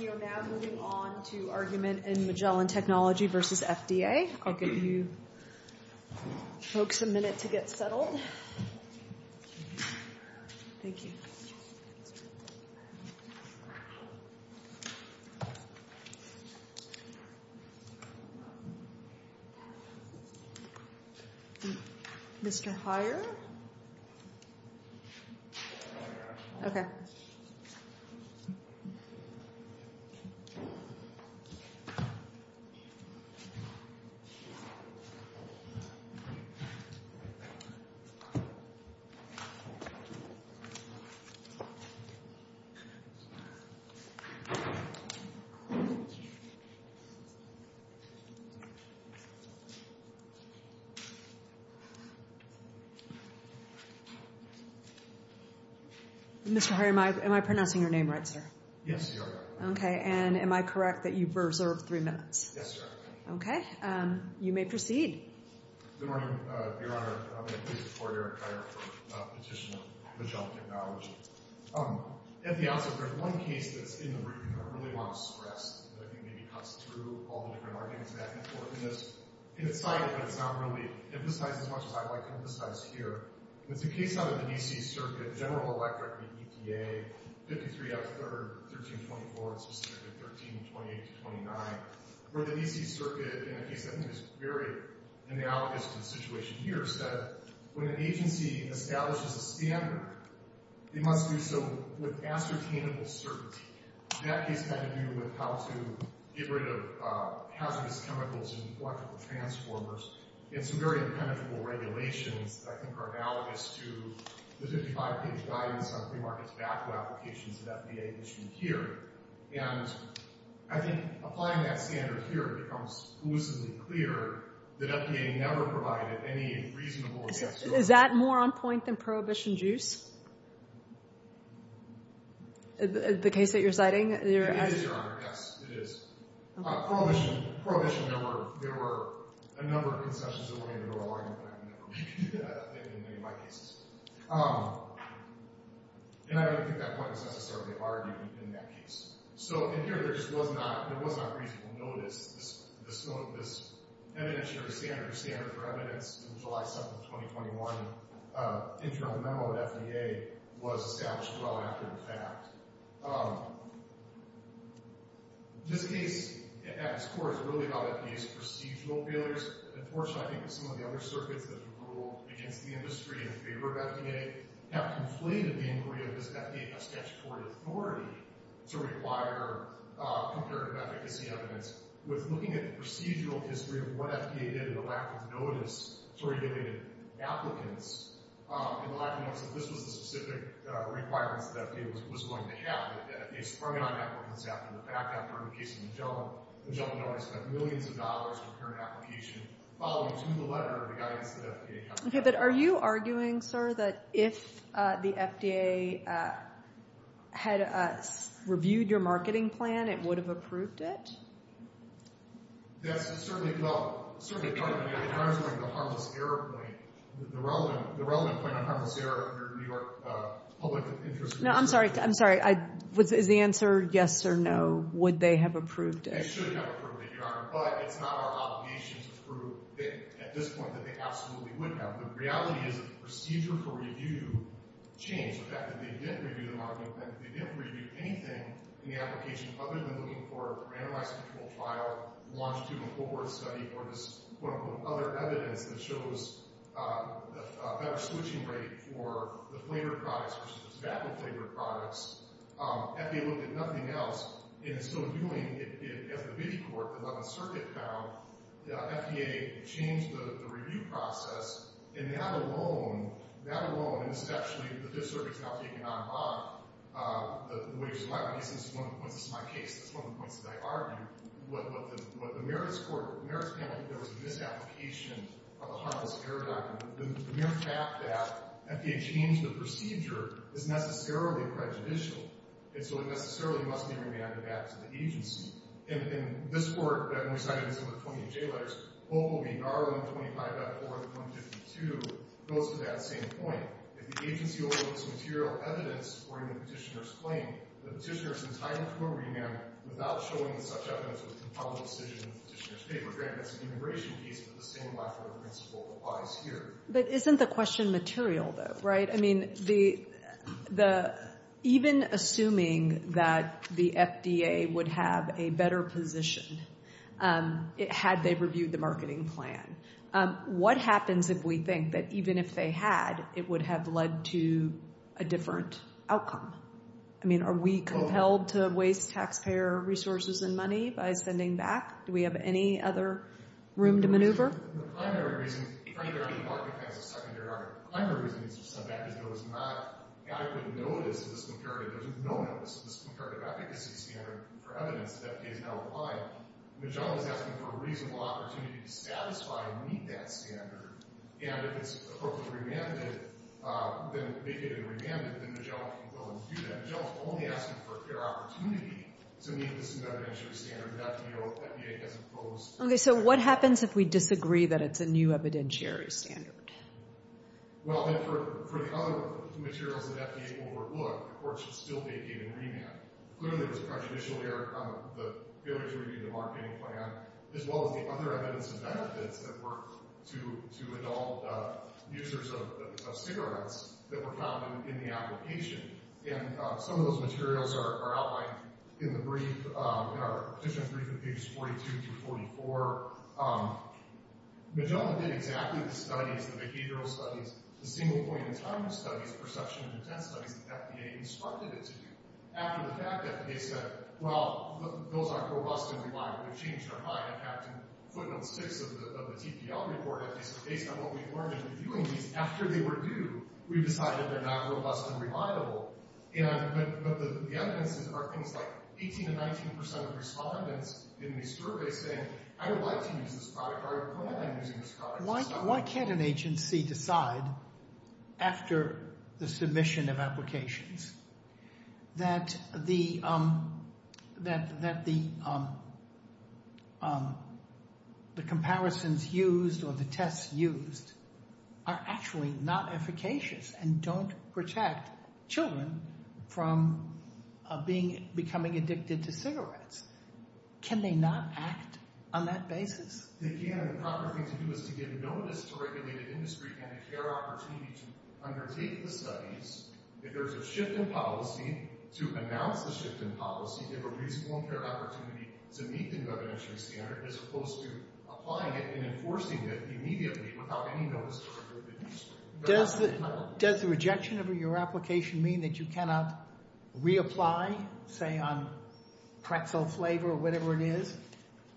We are now moving on to argument in Magellan Technology v. FDA. I'll give you folks a minute to get settled. Thank you. Mr. Heyer? Okay. Thank you. Mr. Heyer, am I pronouncing your name right, sir? Yes, you are. Okay, and am I correct that you've reserved three minutes? Yes, sir. Okay. You may proceed. Good morning, Your Honor. I'm going to please report Eric Heyer for petition of Magellan Technology. At the outset, there's one case that's in the room that I really want to stress, that I think maybe cuts through all the different arguments of that importance. It's cited, but it's not really emphasized as much as I'd like to emphasize here. It's a case out of the D.C. Circuit, General Electric v. EPA, 53 F. 3rd, 1324, and specifically 1328-29, where the D.C. Circuit, in a case that I think is very analogous to the situation here, said when an agency establishes a standard, they must do so with ascertainable certainty. That case had to do with how to get rid of hazardous chemicals in electrical transformers. And some very impenetrable regulations, I think, are analogous to the 55-page guidance on free market tobacco applications that EPA issued here. And I think applying that standard here, it becomes elusively clear that EPA never provided any reasonable assessment. Is that more on point than Prohibition Juice, the case that you're citing? It is, Your Honor. Yes, it is. Prohibition, there were a number of concessions that went into the law, and I don't think we could do that in any of my cases. And I don't think that point was necessarily argued in that case. So in here, there just was not reasonable notice. This evidence-sharing standard or standard for evidence in July 7th of 2021, internal memo of the FDA, was established well after the fact. This case, at its core, is really about EPA's procedural failures. Unfortunately, I think that some of the other circuits that have ruled against the industry in favor of FDA have conflated the inquiry of this FDA as statutory authority to require comparative efficacy evidence with looking at the procedural history of what FDA did in the lack of notice to regulated applicants. In the lack of notice, this was the specific requirements that FDA was going to have. They sprung it on that work that's happened. In fact, after the case of Magellan, Magellan had already spent millions of dollars to prepare an application following to the letter of the guidance that FDA had. Okay, but are you arguing, sir, that if the FDA had reviewed your marketing plan, it would have approved it? That's certainly, well, certainly the harmless error point. The relevant point on harmless error in New York public interest... No, I'm sorry, I'm sorry. Is the answer yes or no? Would they have approved it? They should have approved it, Your Honor. But it's not our obligation to prove at this point that they absolutely would have. The reality is that the procedure for review changed. The fact that they didn't review the marketing plan, they didn't review anything in the application other than looking for a randomized control trial, longitudinal cohort study, or just, quote-unquote, other evidence that shows a better switching rate for the flavored products versus the tobacco-flavored products. FDA looked at nothing else. And in so doing, as the ViviCorp, the 11th Circuit found, the FDA changed the review process, and that alone, that alone, and this is actually the ViviCorp example you can unhook, the way it was in my case, this is my case, this is one of the points that I argued, what the merits panel, there was a misapplication of the harmless error document. The mere fact that FDA changed the procedure is necessarily prejudicial, and so it necessarily must be remanded back to the agency. In this court, that only cited some of the 28J letters, what will be R125.4.52 goes to that same point. If the agency overloads material evidence according to the petitioner's claim, the petitioner is entitled to a remand without showing such evidence within the public decision in the petitioner's paper. Granted, it's an immigration case, but the same lackluster principle applies here. But isn't the question material, though? Right. I mean, even assuming that the FDA would have a better position had they reviewed the marketing plan, what happens if we think that even if they had, it would have led to a different outcome? I mean, are we compelled to waste taxpayer resources and money by sending back? Do we have any other room to maneuver? The primary reason, frankly, I think the marketing plan is a secondary argument. The primary reason it needs to be sent back is there was not adequate notice of this comparative. There was no notice of this comparative efficacy standard for evidence that FDA is now applying. Nagella is asking for a reasonable opportunity to satisfy and meet that standard, and if it's appropriately remanded, then if they get it remanded, then Nagella can go and do that. Nagella is only asking for a fair opportunity to meet this evidentiary standard that FDA has imposed. Okay. So what happens if we disagree that it's a new evidentiary standard? Well, then for the other materials that FDA overlooked, the court should still vacate and remand. Clearly there was a contradiction there on the failure to review the marketing plan as well as the other evidence and benefits that were to adult users of cigarettes that were found in the application. And some of those materials are outlined in the brief, in our petition brief, in pages 42 through 44. Nagella did exactly the studies, the behavioral studies, the single point in time studies, perception and intent studies that FDA instructed it to do. After the fact, FDA said, well, those are robust and reliable. They've changed their mind. In fact, in footnote 6 of the TPL report, FDA said, based on what we've learned in reviewing these, after they were due, we decided they're not robust and reliable. But the evidence are things like 18 to 19% of respondents in these surveys saying, I would like to use this product or I plan on using this product. Why can't an agency decide after the submission of applications that the comparisons used or the tests used are actually not efficacious and don't protect children from becoming addicted to cigarettes? Can they not act on that basis? They can, and the proper thing to do is to give notice to regulated industry and a fair opportunity to undertake the studies. If there's a shift in policy, to announce the shift in policy, give a reasonable fair opportunity to meet the governational standard as opposed to applying it and enforcing it immediately without any notice to regulated industry. Does the rejection of your application mean that you cannot reapply, say on pretzel flavor or whatever it is,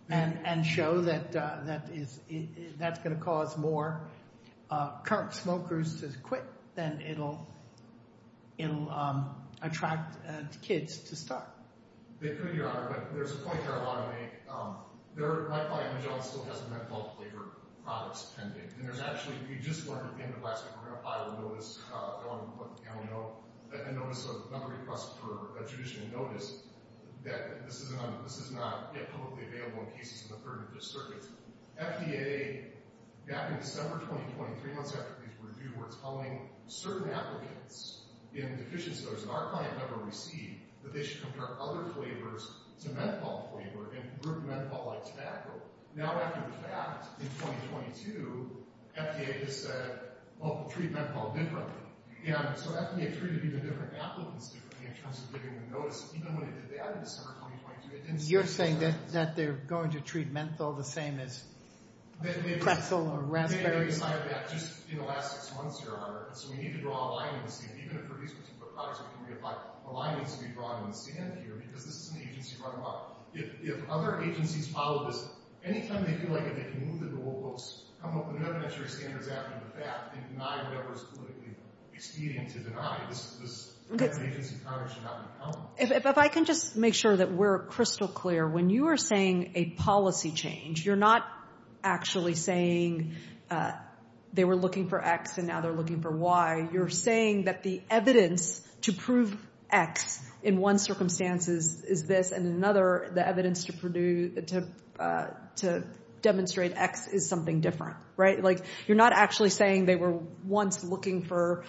and show that that's going to cause more current smokers to quit than it'll attract kids to start? They could, Your Honor, but there's a point here I want to make. My client, John, still has a mental health flavor products pending. And there's actually, we just learned at the end of last week, we're going to file a notice, I don't know, a notice, another request for a judicial notice that this is not yet publicly available in cases in the third district. FDA, back in December 2020, three months after these were due, were telling certain applicants in deficient stores that our client never received that they should compare other flavors to menthol flavor and group menthol like tobacco. Now, after the fact, in 2022, FDA has said, well, we'll treat menthol differently. And so FDA treated even different applicants differently in terms of giving them notices. Even when they did that in December 2022, it didn't stay the same. You're saying that they're going to treat menthol the same as pretzel or raspberry? Just in the last six months, Your Honor, so we need to draw a line and see, even if for these particular products we can reapply, a line needs to be drawn in the sand here because this is an agency run by. If other agencies follow this, any time they feel like they can move the rule books, come up with an evidentiary standards after the fact, and deny whatever is politically expedient to deny, this agency should not be accountable. If I can just make sure that we're crystal clear, when you are saying a policy change, you're not actually saying they were looking for X and now they're looking for Y. You're saying that the evidence to prove X in one circumstance is this, and in another, the evidence to demonstrate X is something different, right? You're not actually saying they were once looking for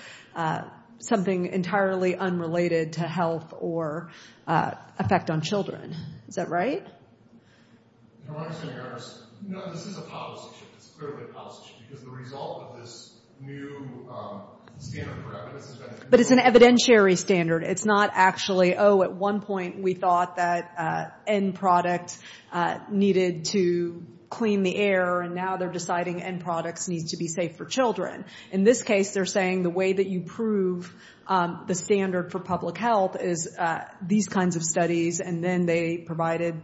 something entirely unrelated to health or effect on children. Is that right? Your Honor, this is a policy shift. It's clearly a policy shift because the result of this new standard for evidence has been— But it's an evidentiary standard. It's not actually, oh, at one point we thought that end product needed to clean the air, and now they're deciding end products need to be safe for children. In this case, they're saying the way that you prove the standard for public health is these kinds of studies, and then they provided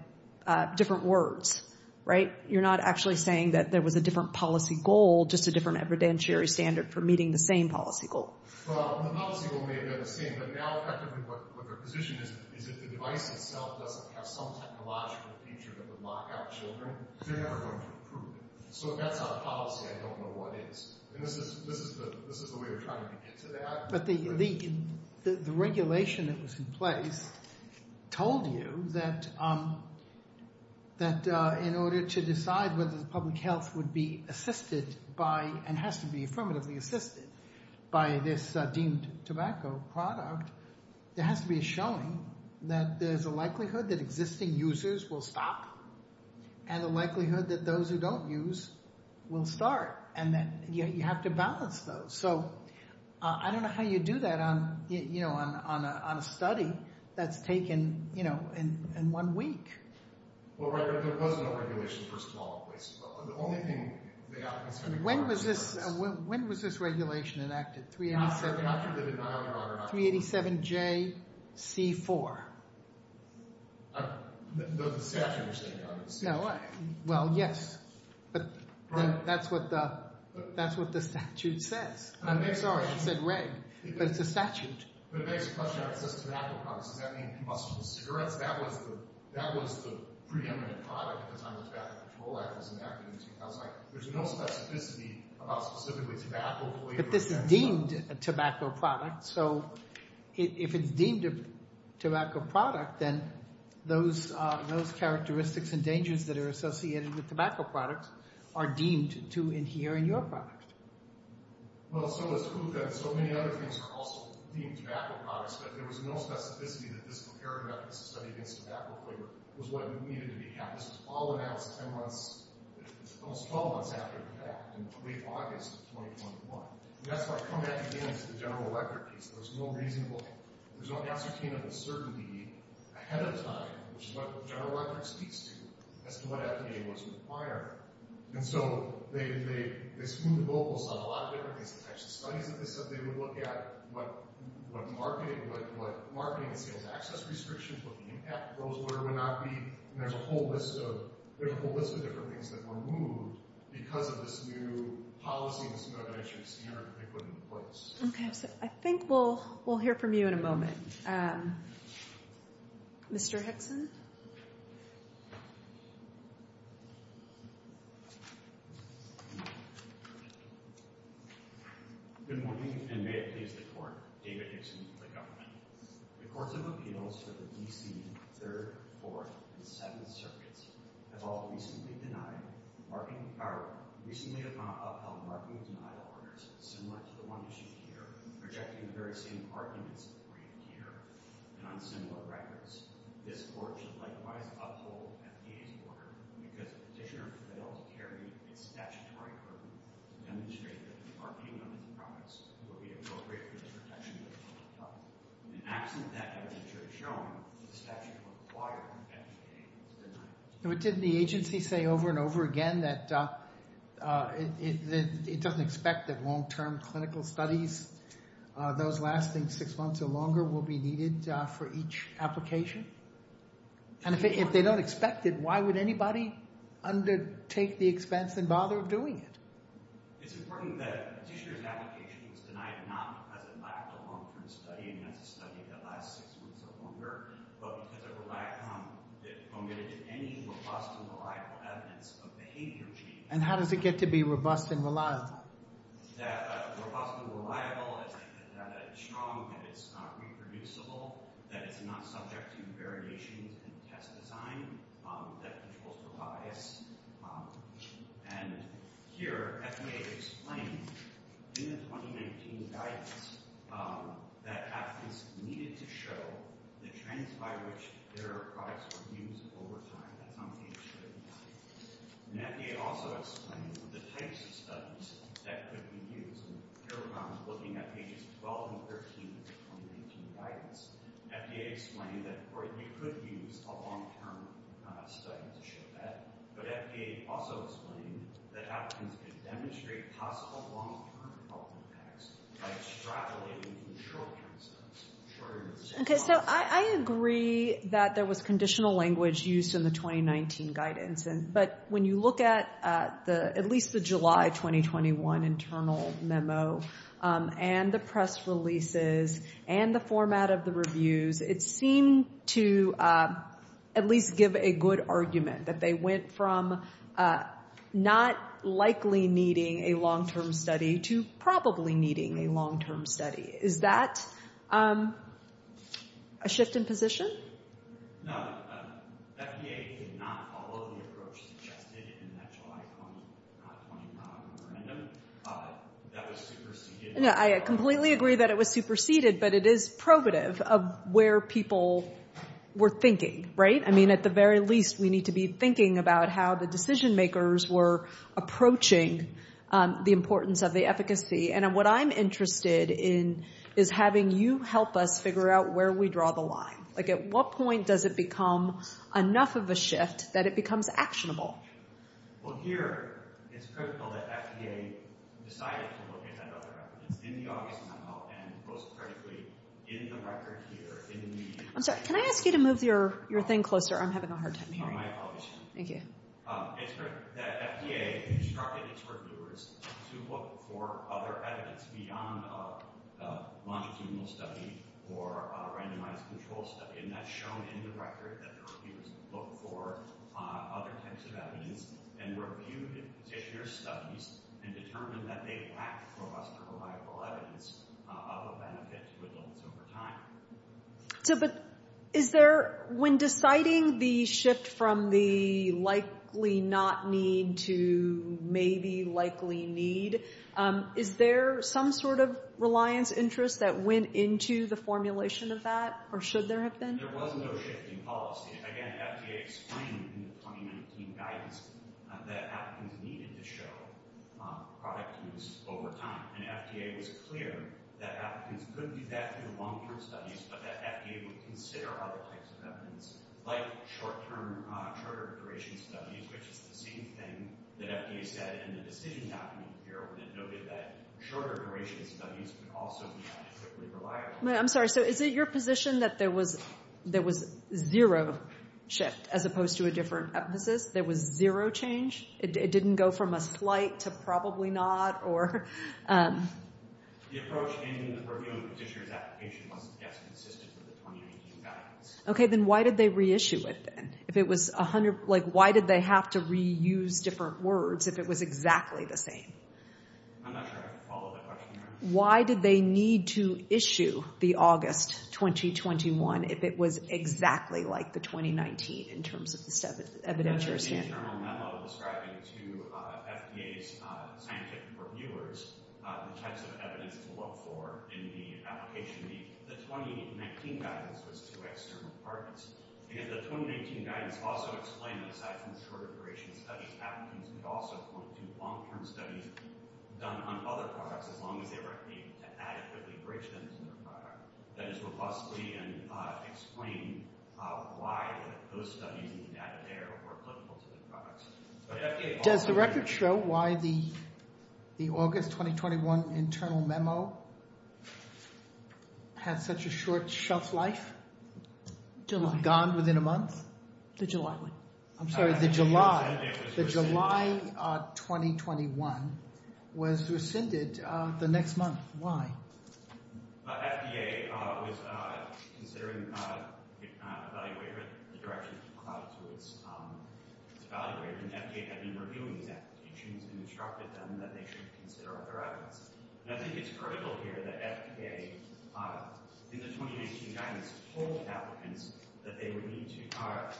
different words, right? You're not actually saying that there was a different policy goal, just a different evidentiary standard for meeting the same policy goal. Well, the policy goal may have been the same, but now effectively what their position is is if the device itself doesn't have some technological feature that would lock out children, they're never going to prove it. So if that's not a policy, I don't know what is. And this is the way we're trying to get to that. But the regulation that was in place told you that in order to decide whether the public health would be assisted by— and has to be affirmatively assisted by this deemed tobacco product, there has to be a showing that there's a likelihood that existing users will stop and a likelihood that those who don't use will start, and that you have to balance those. So I don't know how you do that on a study that's taken, you know, in one week. Well, there was no regulation in the first place. The only thing— When was this regulation enacted? After the denial of— 387JC4. I don't know. Does the statute say that? Well, yes. But that's what the statute says. Sorry, I said reg, but it's a statute. But this is deemed a tobacco product. So if it's deemed a tobacco product, then those characteristics and dangers that are associated with tobacco products are deemed to adhere in your product. Well, so it's true that so many other things are also deemed tobacco products, but there was no specificity that this comparative efficacy study against tobacco flavor was what needed to be had. This was all announced 10 months—almost 12 months after the fact, in late August of 2021. And that's where I come back again to the general record piece. There's no reasonable—there's no ascertainable certainty ahead of time, which is what the general record speaks to, as to what FDA was requiring. And so they smoothed the vocals on a lot of different things. The types of studies that they said they would look at, what marketing and sales access restrictions, what the impact goals were would not be. And there's a whole list of different things that were moved because of this new policy Okay, so I think we'll hear from you in a moment. Mr. Hickson? Good morning, and may it please the Court, David Hickson, the government. The courts of appeals for the D.C. Third, Fourth, and Seventh Circuits have all recently denied recently upheld marketing denial orders similar to the one issued here, rejecting the very same arguments agreed here and on similar records. This Court should likewise uphold FDA's order because the petitioner failed to carry its statutory burden to demonstrate that the marketing on the compromise would be appropriate for the protection of the public health. In the absence of that evidence, it should have shown that the statute required an FDA denial. Didn't the agency say over and over again that it doesn't expect that long-term clinical studies, those lasting six months or longer, will be needed for each application? And if they don't expect it, why would anybody undertake the expense and bother doing it? It's important that a petitioner's application was denied not because it lacked a long-term study, and that's a study that lasts six months or longer, but because it omitted any robust and reliable evidence of behavior change. And how does it get to be robust and reliable? That robust and reliable is strong, that it's not reproducible, that it's not subject to variations in test design, that controls the bias. And here, FDA explained in the 2019 guidance that applicants needed to show the trends by which their products were used over time. That's on page 35. And FDA also explained the types of studies that could be used. Here I'm looking at pages 12 and 13 of the 2019 guidance. FDA explained that you could use a long-term study to show that, but FDA also explained that applicants could demonstrate possible long-term health impacts by extrapolating short-term studies. Okay, so I agree that there was conditional language used in the 2019 guidance, but when you look at at least the July 2021 internal memo and the press releases and the format of the reviews, it seemed to at least give a good argument that they went from not likely needing a long-term study to probably needing a long-term study. Is that a shift in position? No, FDA did not follow the approach suggested in that July 2021 memorandum. That was superseded. I completely agree that it was superseded, but it is probative of where people were thinking, right? I mean, at the very least, we need to be thinking about how the decision makers were approaching the importance of the efficacy. And what I'm interested in is having you help us figure out where we draw the line. Like, at what point does it become enough of a shift that it becomes actionable? Well, here it's critical that FDA decided to look at that other effort. It's in the August memo and, most critically, in the record here in the— I'm sorry, can I ask you to move your thing closer? I'm having a hard time hearing you. Oh, my apologies. Thank you. It's good that FDA instructed its reviewers to look for other evidence beyond a longitudinal study or a randomized control study. And that's shown in the record that the reviewers looked for other types of evidence and reviewed the petitioner's studies and determined that they lacked robust and reliable evidence of a benefit to adults over time. So, but is there—when deciding the shift from the likely not need to maybe likely need, is there some sort of reliance interest that went into the formulation of that, or should there have been? There was no shift in policy. Again, FDA explained in the 2019 guidance that applicants needed to show product use over time. And FDA was clear that applicants could do that through long-term studies, but that FDA would consider other types of evidence, like short-term, shorter-duration studies, which is the same thing that FDA said in the decision document here, when it noted that shorter-duration studies could also be relatively reliable. I'm sorry, so is it your position that there was zero shift, as opposed to a different emphasis? There was zero change? It didn't go from a slight to probably not, or— The approach in reviewing the petitioner's application wasn't, I guess, consistent with the 2019 guidance. Okay, then why did they reissue it, then? If it was 100—like, why did they have to reuse different words if it was exactly the same? I'm not sure I can follow that question. Why did they need to issue the August 2021 if it was exactly like the 2019, in terms of the evidentiary standard? There was an external memo describing to FDA's scientific reviewers the types of evidence to look for in the application. The 2019 guidance was to external partners, because the 2019 guidance also explained that, aside from shorter-duration studies, applicants could also do long-term studies done on other products, as long as they were able to adequately bridge them to their product. That just would possibly explain why those studies and the data there were applicable to the products. Does the record show why the August 2021 internal memo had such a short shelf life? Gone within a month? The July one. I'm sorry, the July. The July 2021 was rescinded the next month. Why? FDA was considering, if not evaluated, the direction to apply to its evaluator, and FDA had been reviewing these applications and instructed them that they should consider other evidence. And I think it's critical here that FDA, in the 2019 guidance, told applicants that they would need to—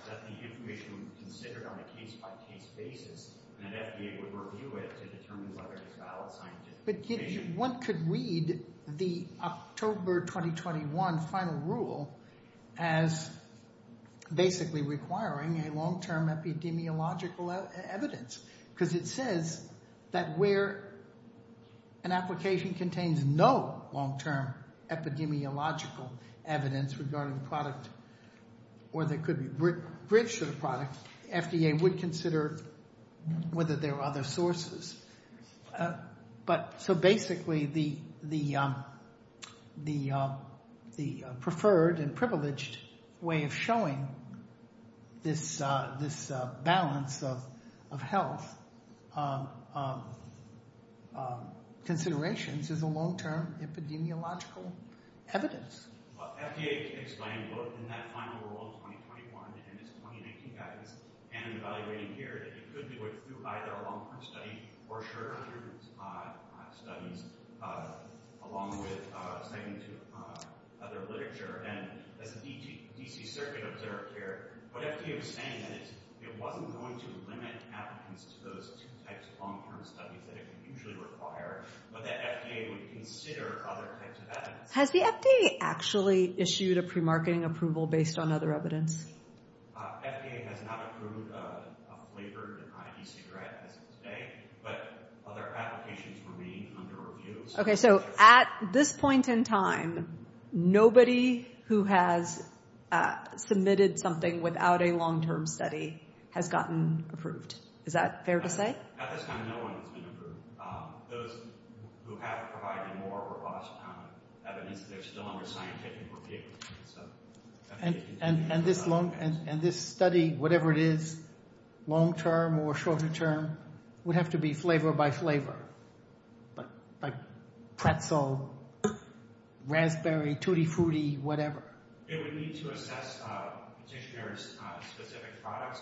that the information would be considered on a case-by-case basis, and that FDA would review it to determine whether it was valid scientific information. But one could read the October 2021 final rule as basically requiring a long-term epidemiological evidence, because it says that where an application contains no long-term epidemiological evidence regarding the product or that could be bridged to the product, FDA would consider whether there are other sources. So basically, the preferred and privileged way of showing this balance of health considerations is a long-term epidemiological evidence. Well, FDA explained both in that final rule in 2021 and its 2019 guidance, and in evaluating here, that you could do either a long-term study or short-term studies, along with second to other literature. And as the D.C. Circuit observed here, what FDA was saying then is it wasn't going to limit applicants to those two types of long-term studies that it would usually require, but that FDA would consider other types of evidence. Has the FDA actually issued a pre-marketing approval based on other evidence? FDA has not approved a flavored ID cigarette as of today, but other applications remain under review. Okay, so at this point in time, nobody who has submitted something without a long-term study has gotten approved. Is that fair to say? At this time, no one has been approved. Those who have provided more robust evidence, they're still under scientific review. And this study, whatever it is, long-term or short-term, would have to be flavor by flavor, like pretzel, raspberry, tutti-frutti, whatever. It would need to assess petitioner-specific products.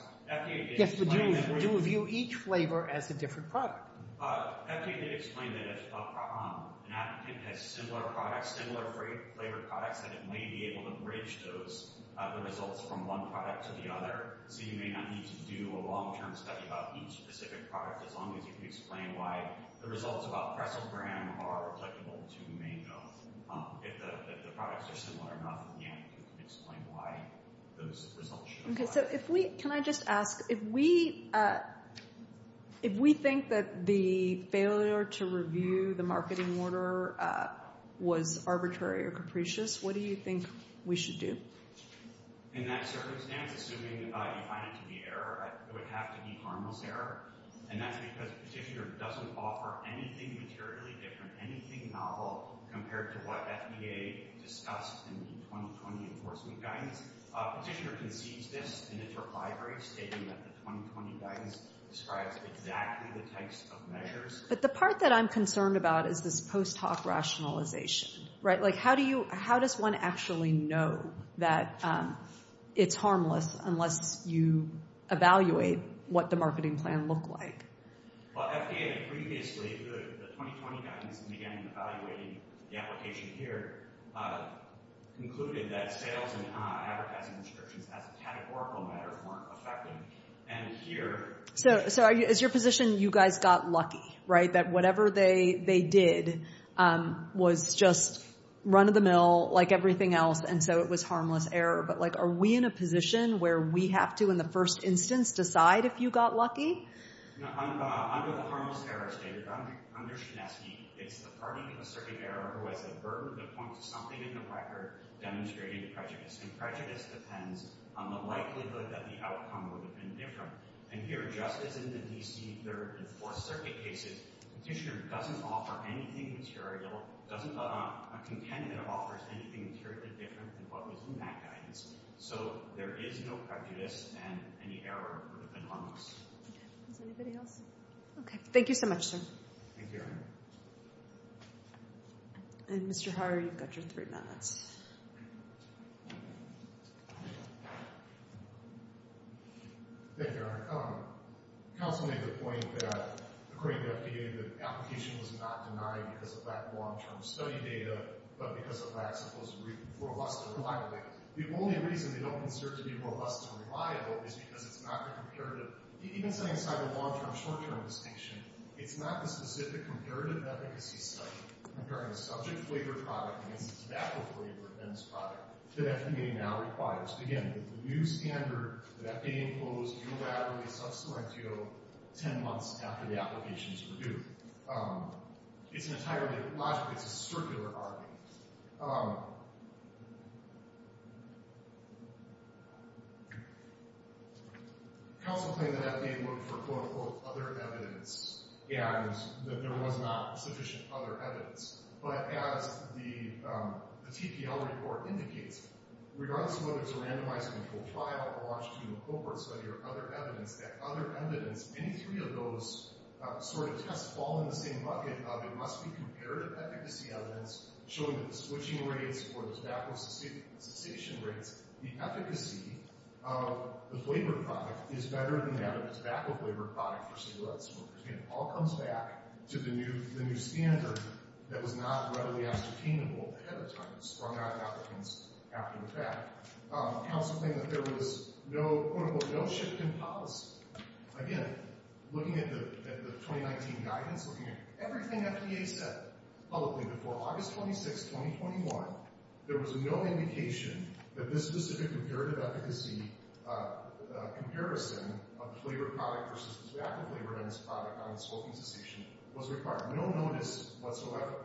Yes, but you would view each flavor as a different product. FDA did explain that if an applicant has similar products, similar flavored products, that it may be able to bridge those results from one product to the other, so you may not need to do a long-term study about each specific product as long as you can explain why the results about pretzel bran are applicable to mango. If the products are similar enough, again, you can explain why those results should apply. Can I just ask, if we think that the failure to review the marketing order was arbitrary or capricious, what do you think we should do? In that circumstance, assuming you find it to be error, it would have to be harmless error, and that's because the petitioner doesn't offer anything materially different, anything novel, compared to what FDA discussed in the 2020 enforcement guidance. Petitioner concedes this in its reply break, stating that the 2020 guidance describes exactly the types of measures. But the part that I'm concerned about is this post-talk rationalization, right? Like, how does one actually know that it's harmless unless you evaluate what the marketing plan looked like? Well, FDA previously, the 2020 guidance, and again, evaluating the application here, concluded that sales and advertising restrictions, as a categorical matter, weren't affected. And here... So, as your position, you guys got lucky, right? That whatever they did was just run-of-the-mill, like everything else, and so it was harmless error. But, like, are we in a position where we have to, in the first instance, decide if you got lucky? No, under the harmless error statement, under SHINESKI, it's the party in the circuit error who has a burden that points to something in the record demonstrating prejudice. And prejudice depends on the likelihood that the outcome would have been different. And here, just as in the D.C. 3rd and 4th Circuit cases, Petitioner doesn't offer anything material, doesn't have a content that offers anything materially different than what was in that guidance. So there is no prejudice, and any error would have been harmless. Okay. Is there anybody else? Okay. Thank you so much, sir. Thank you, Erin. And, Mr. Harre, you've got your three minutes. Thank you, Erin. Counsel made the point that, according to FDA, the application was not denied because of that long-term study data, but because of that supposed robust and reliable data. The only reason they don't consider it to be robust and reliable is because it's not been compared to... Even setting aside the long-term, short-term distinction, it's not the specific comparative efficacy study comparing a subject-flavored product against a tobacco-flavored men's product that FDA now requires. Again, it's a new standard that FDA imposed unilaterally sub salientio ten months after the application was reviewed. It's entirely logical. It's a circular argument. Counsel claimed that FDA looked for, quote, unquote, other evidence, and that there was not sufficient other evidence. But as the TPL report indicates, regardless of whether it's a randomized controlled trial, a longitudinal cohort study, or other evidence, that other evidence, any three of those sort of tests all in the same bucket of it must be comparative efficacy evidence, showing that the switching rates or the tobacco cessation rates, the efficacy of the flavored product is better than that of the tobacco-flavored product for cigarettes. Again, it all comes back to the new standard that was not readily ascertainable ahead of time. It sprung out of applicants after the fact. Counsel claimed that there was no, quote, unquote, no shift in policy. Again, looking at the 2019 guidance, looking at everything FDA said publicly before August 26, 2021, there was no indication that this specific comparative efficacy comparison of flavored product versus tobacco-flavored product on smoking cessation was required. No notice whatsoever.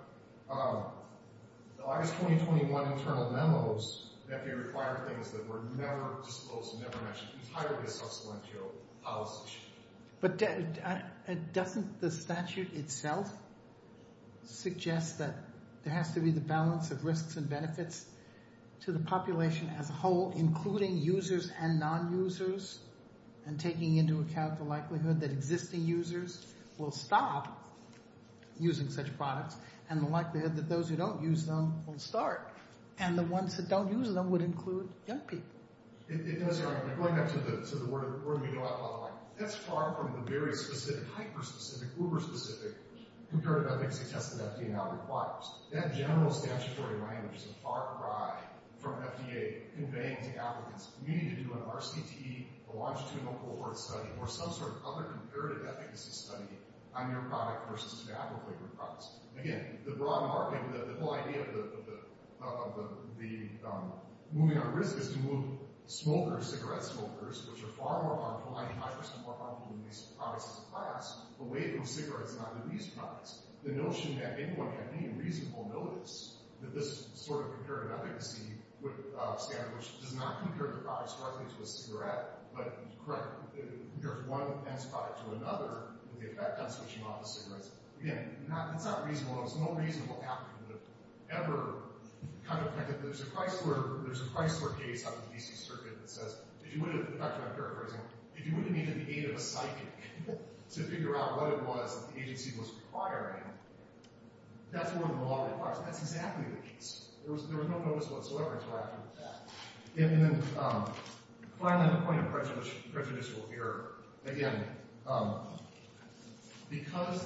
The August 2021 internal memos, FDA required things that were never disclosed, never mentioned, entirely a subsequent to policy. But doesn't the statute itself suggest that there has to be the balance of risks and benefits to the population as a whole, including users and non-users, and taking into account the likelihood that existing users will stop using such products, and the likelihood that those who don't use them will start, and the ones that don't use them would include young people? It does. Going back to the word we go out a lot, that's far from the very specific, hyper-specific, uber-specific comparative efficacy test that FDA now requires. That general statutory language is a far cry from FDA conveying to applicants, you need to do an RCT, a longitudinal cohort study, or some sort of other comparative efficacy study on your product versus tobacco-flavored products. Again, the broad market, the whole idea of the moving on risk is to move smokers, cigarette smokers, which are far more harmful, 90% more harmful than these products in the past, away from cigarettes and either of these products. The notion that anyone had any reasonable notice that this sort of comparative efficacy standard, which does not compare the products directly to a cigarette, but, correct, compared to one product to another, with the effect on switching off a cigarette. Again, that's not reasonable. There's no reasonable applicant that ever kind of predicted that. There's a Chrysler case out in the D.C. Circuit that says, if you would have, back to my characterizing, if you would have needed the aid of a psychic to figure out what it was that the agency was requiring, that's more than the law requires. That's exactly the case. There was no notice whatsoever interacting with that. And then, finally, the point of prejudicial fear. Again, because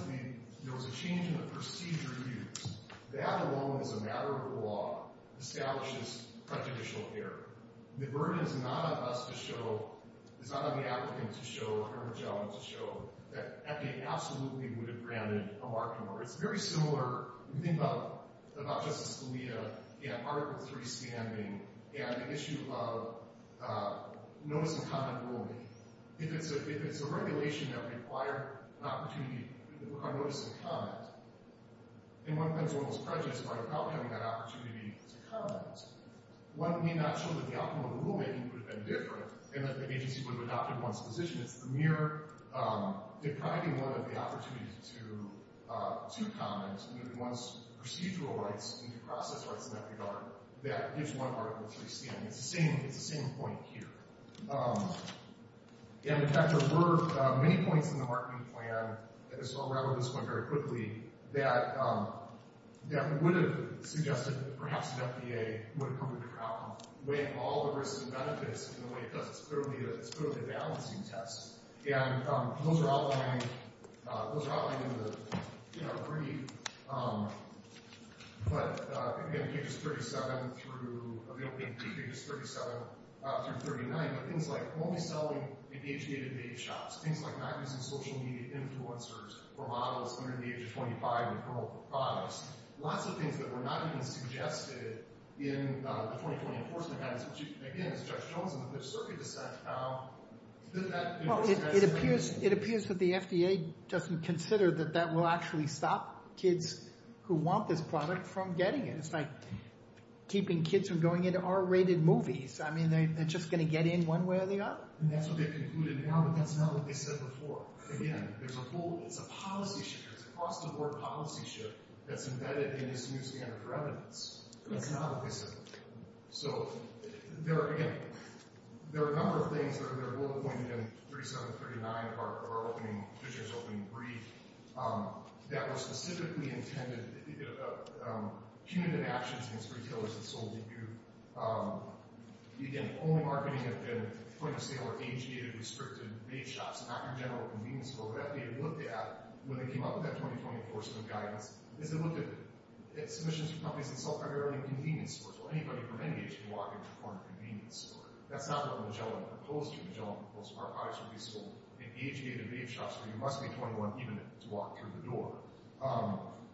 there was a change in the procedure used, that alone, as a matter of the law, establishes prejudicial fear. The burden is not on us to show, it's not on the applicant to show, or the judge to show, that they absolutely would have granted a marking order. It's a very similar thing about Justice Scalia in Article III standing, and the issue of notice-and-comment rulemaking. If it's a regulation that required an opportunity to require notice and comment, then one becomes almost prejudiced by not having that opportunity to comment. One may not show that the outcome of the rulemaking could have been different, and that the agency would have adopted one's position. It's the mere depriving one of the opportunity to comment, one's procedural rights and due process rights in that regard, that gives one Article III standing. It's the same point here. And, in fact, there were many points in the marketing plan, and so I'll rattle this one very quickly, that would have suggested that perhaps an FDA would have come up with a problem, weighing all the risks and benefits in the way it does. It's clearly a balancing test. And those are outlined in the brief. But, again, pages 37 through 39, things like only selling in age-dated bake shops, things like not using social media influencers or models under the age of 25 in criminal products, lots of things that were not even suggested in the 2020 Enforcement Act. Again, it's Judge Jones and the Fifth Circuit dissent. Well, it appears that the FDA doesn't consider that that will actually stop kids who want this product from getting it. It's like keeping kids from going into R-rated movies. I mean, they're just going to get in one way or the other? That's what they've concluded now, but that's not what they said before. Again, it's a policy shift. It's a cross-the-board policy shift that's embedded in this new standard for evidence. That's not what they said before. So, there are, again, there are a number of things that are well-pointed in 37 through 39 of our opening, Fisher's opening brief, that were specifically intended, punitive actions against retailers that sold to you. Again, only marketing had been point-of-sale or age-dated restricted bake shops, not your general convenience store. What FDA looked at when they came up with that 2020 Enforcement Guidance is they looked at submissions from companies that sold primarily convenience stores, so anybody from any age can walk into a corner convenience store. That's not what Magellan proposed here. Magellan proposed our products would be sold in age-dated bake shops, so you must be 21 even to walk through the door.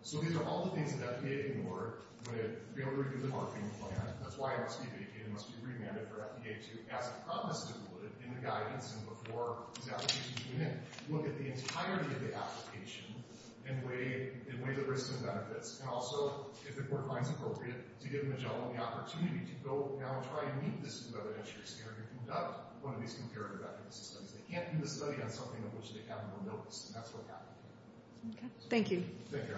So, these are all the things that FDA ignored when it failed to review the marketing plan. That's why it must be vacated. It must be remanded for FDA to, as promised, include it in the guidance and before these applications came in. Look at the entirety of the application and weigh the risks and benefits, and also, if the board finds appropriate, to give Magellan the opportunity to go now and try to meet this new evidence and conduct one of these comparative evidence studies. They can't do the study on something on which they haven't been noticed, and that's what happened. Thank you. Take care. Thank you.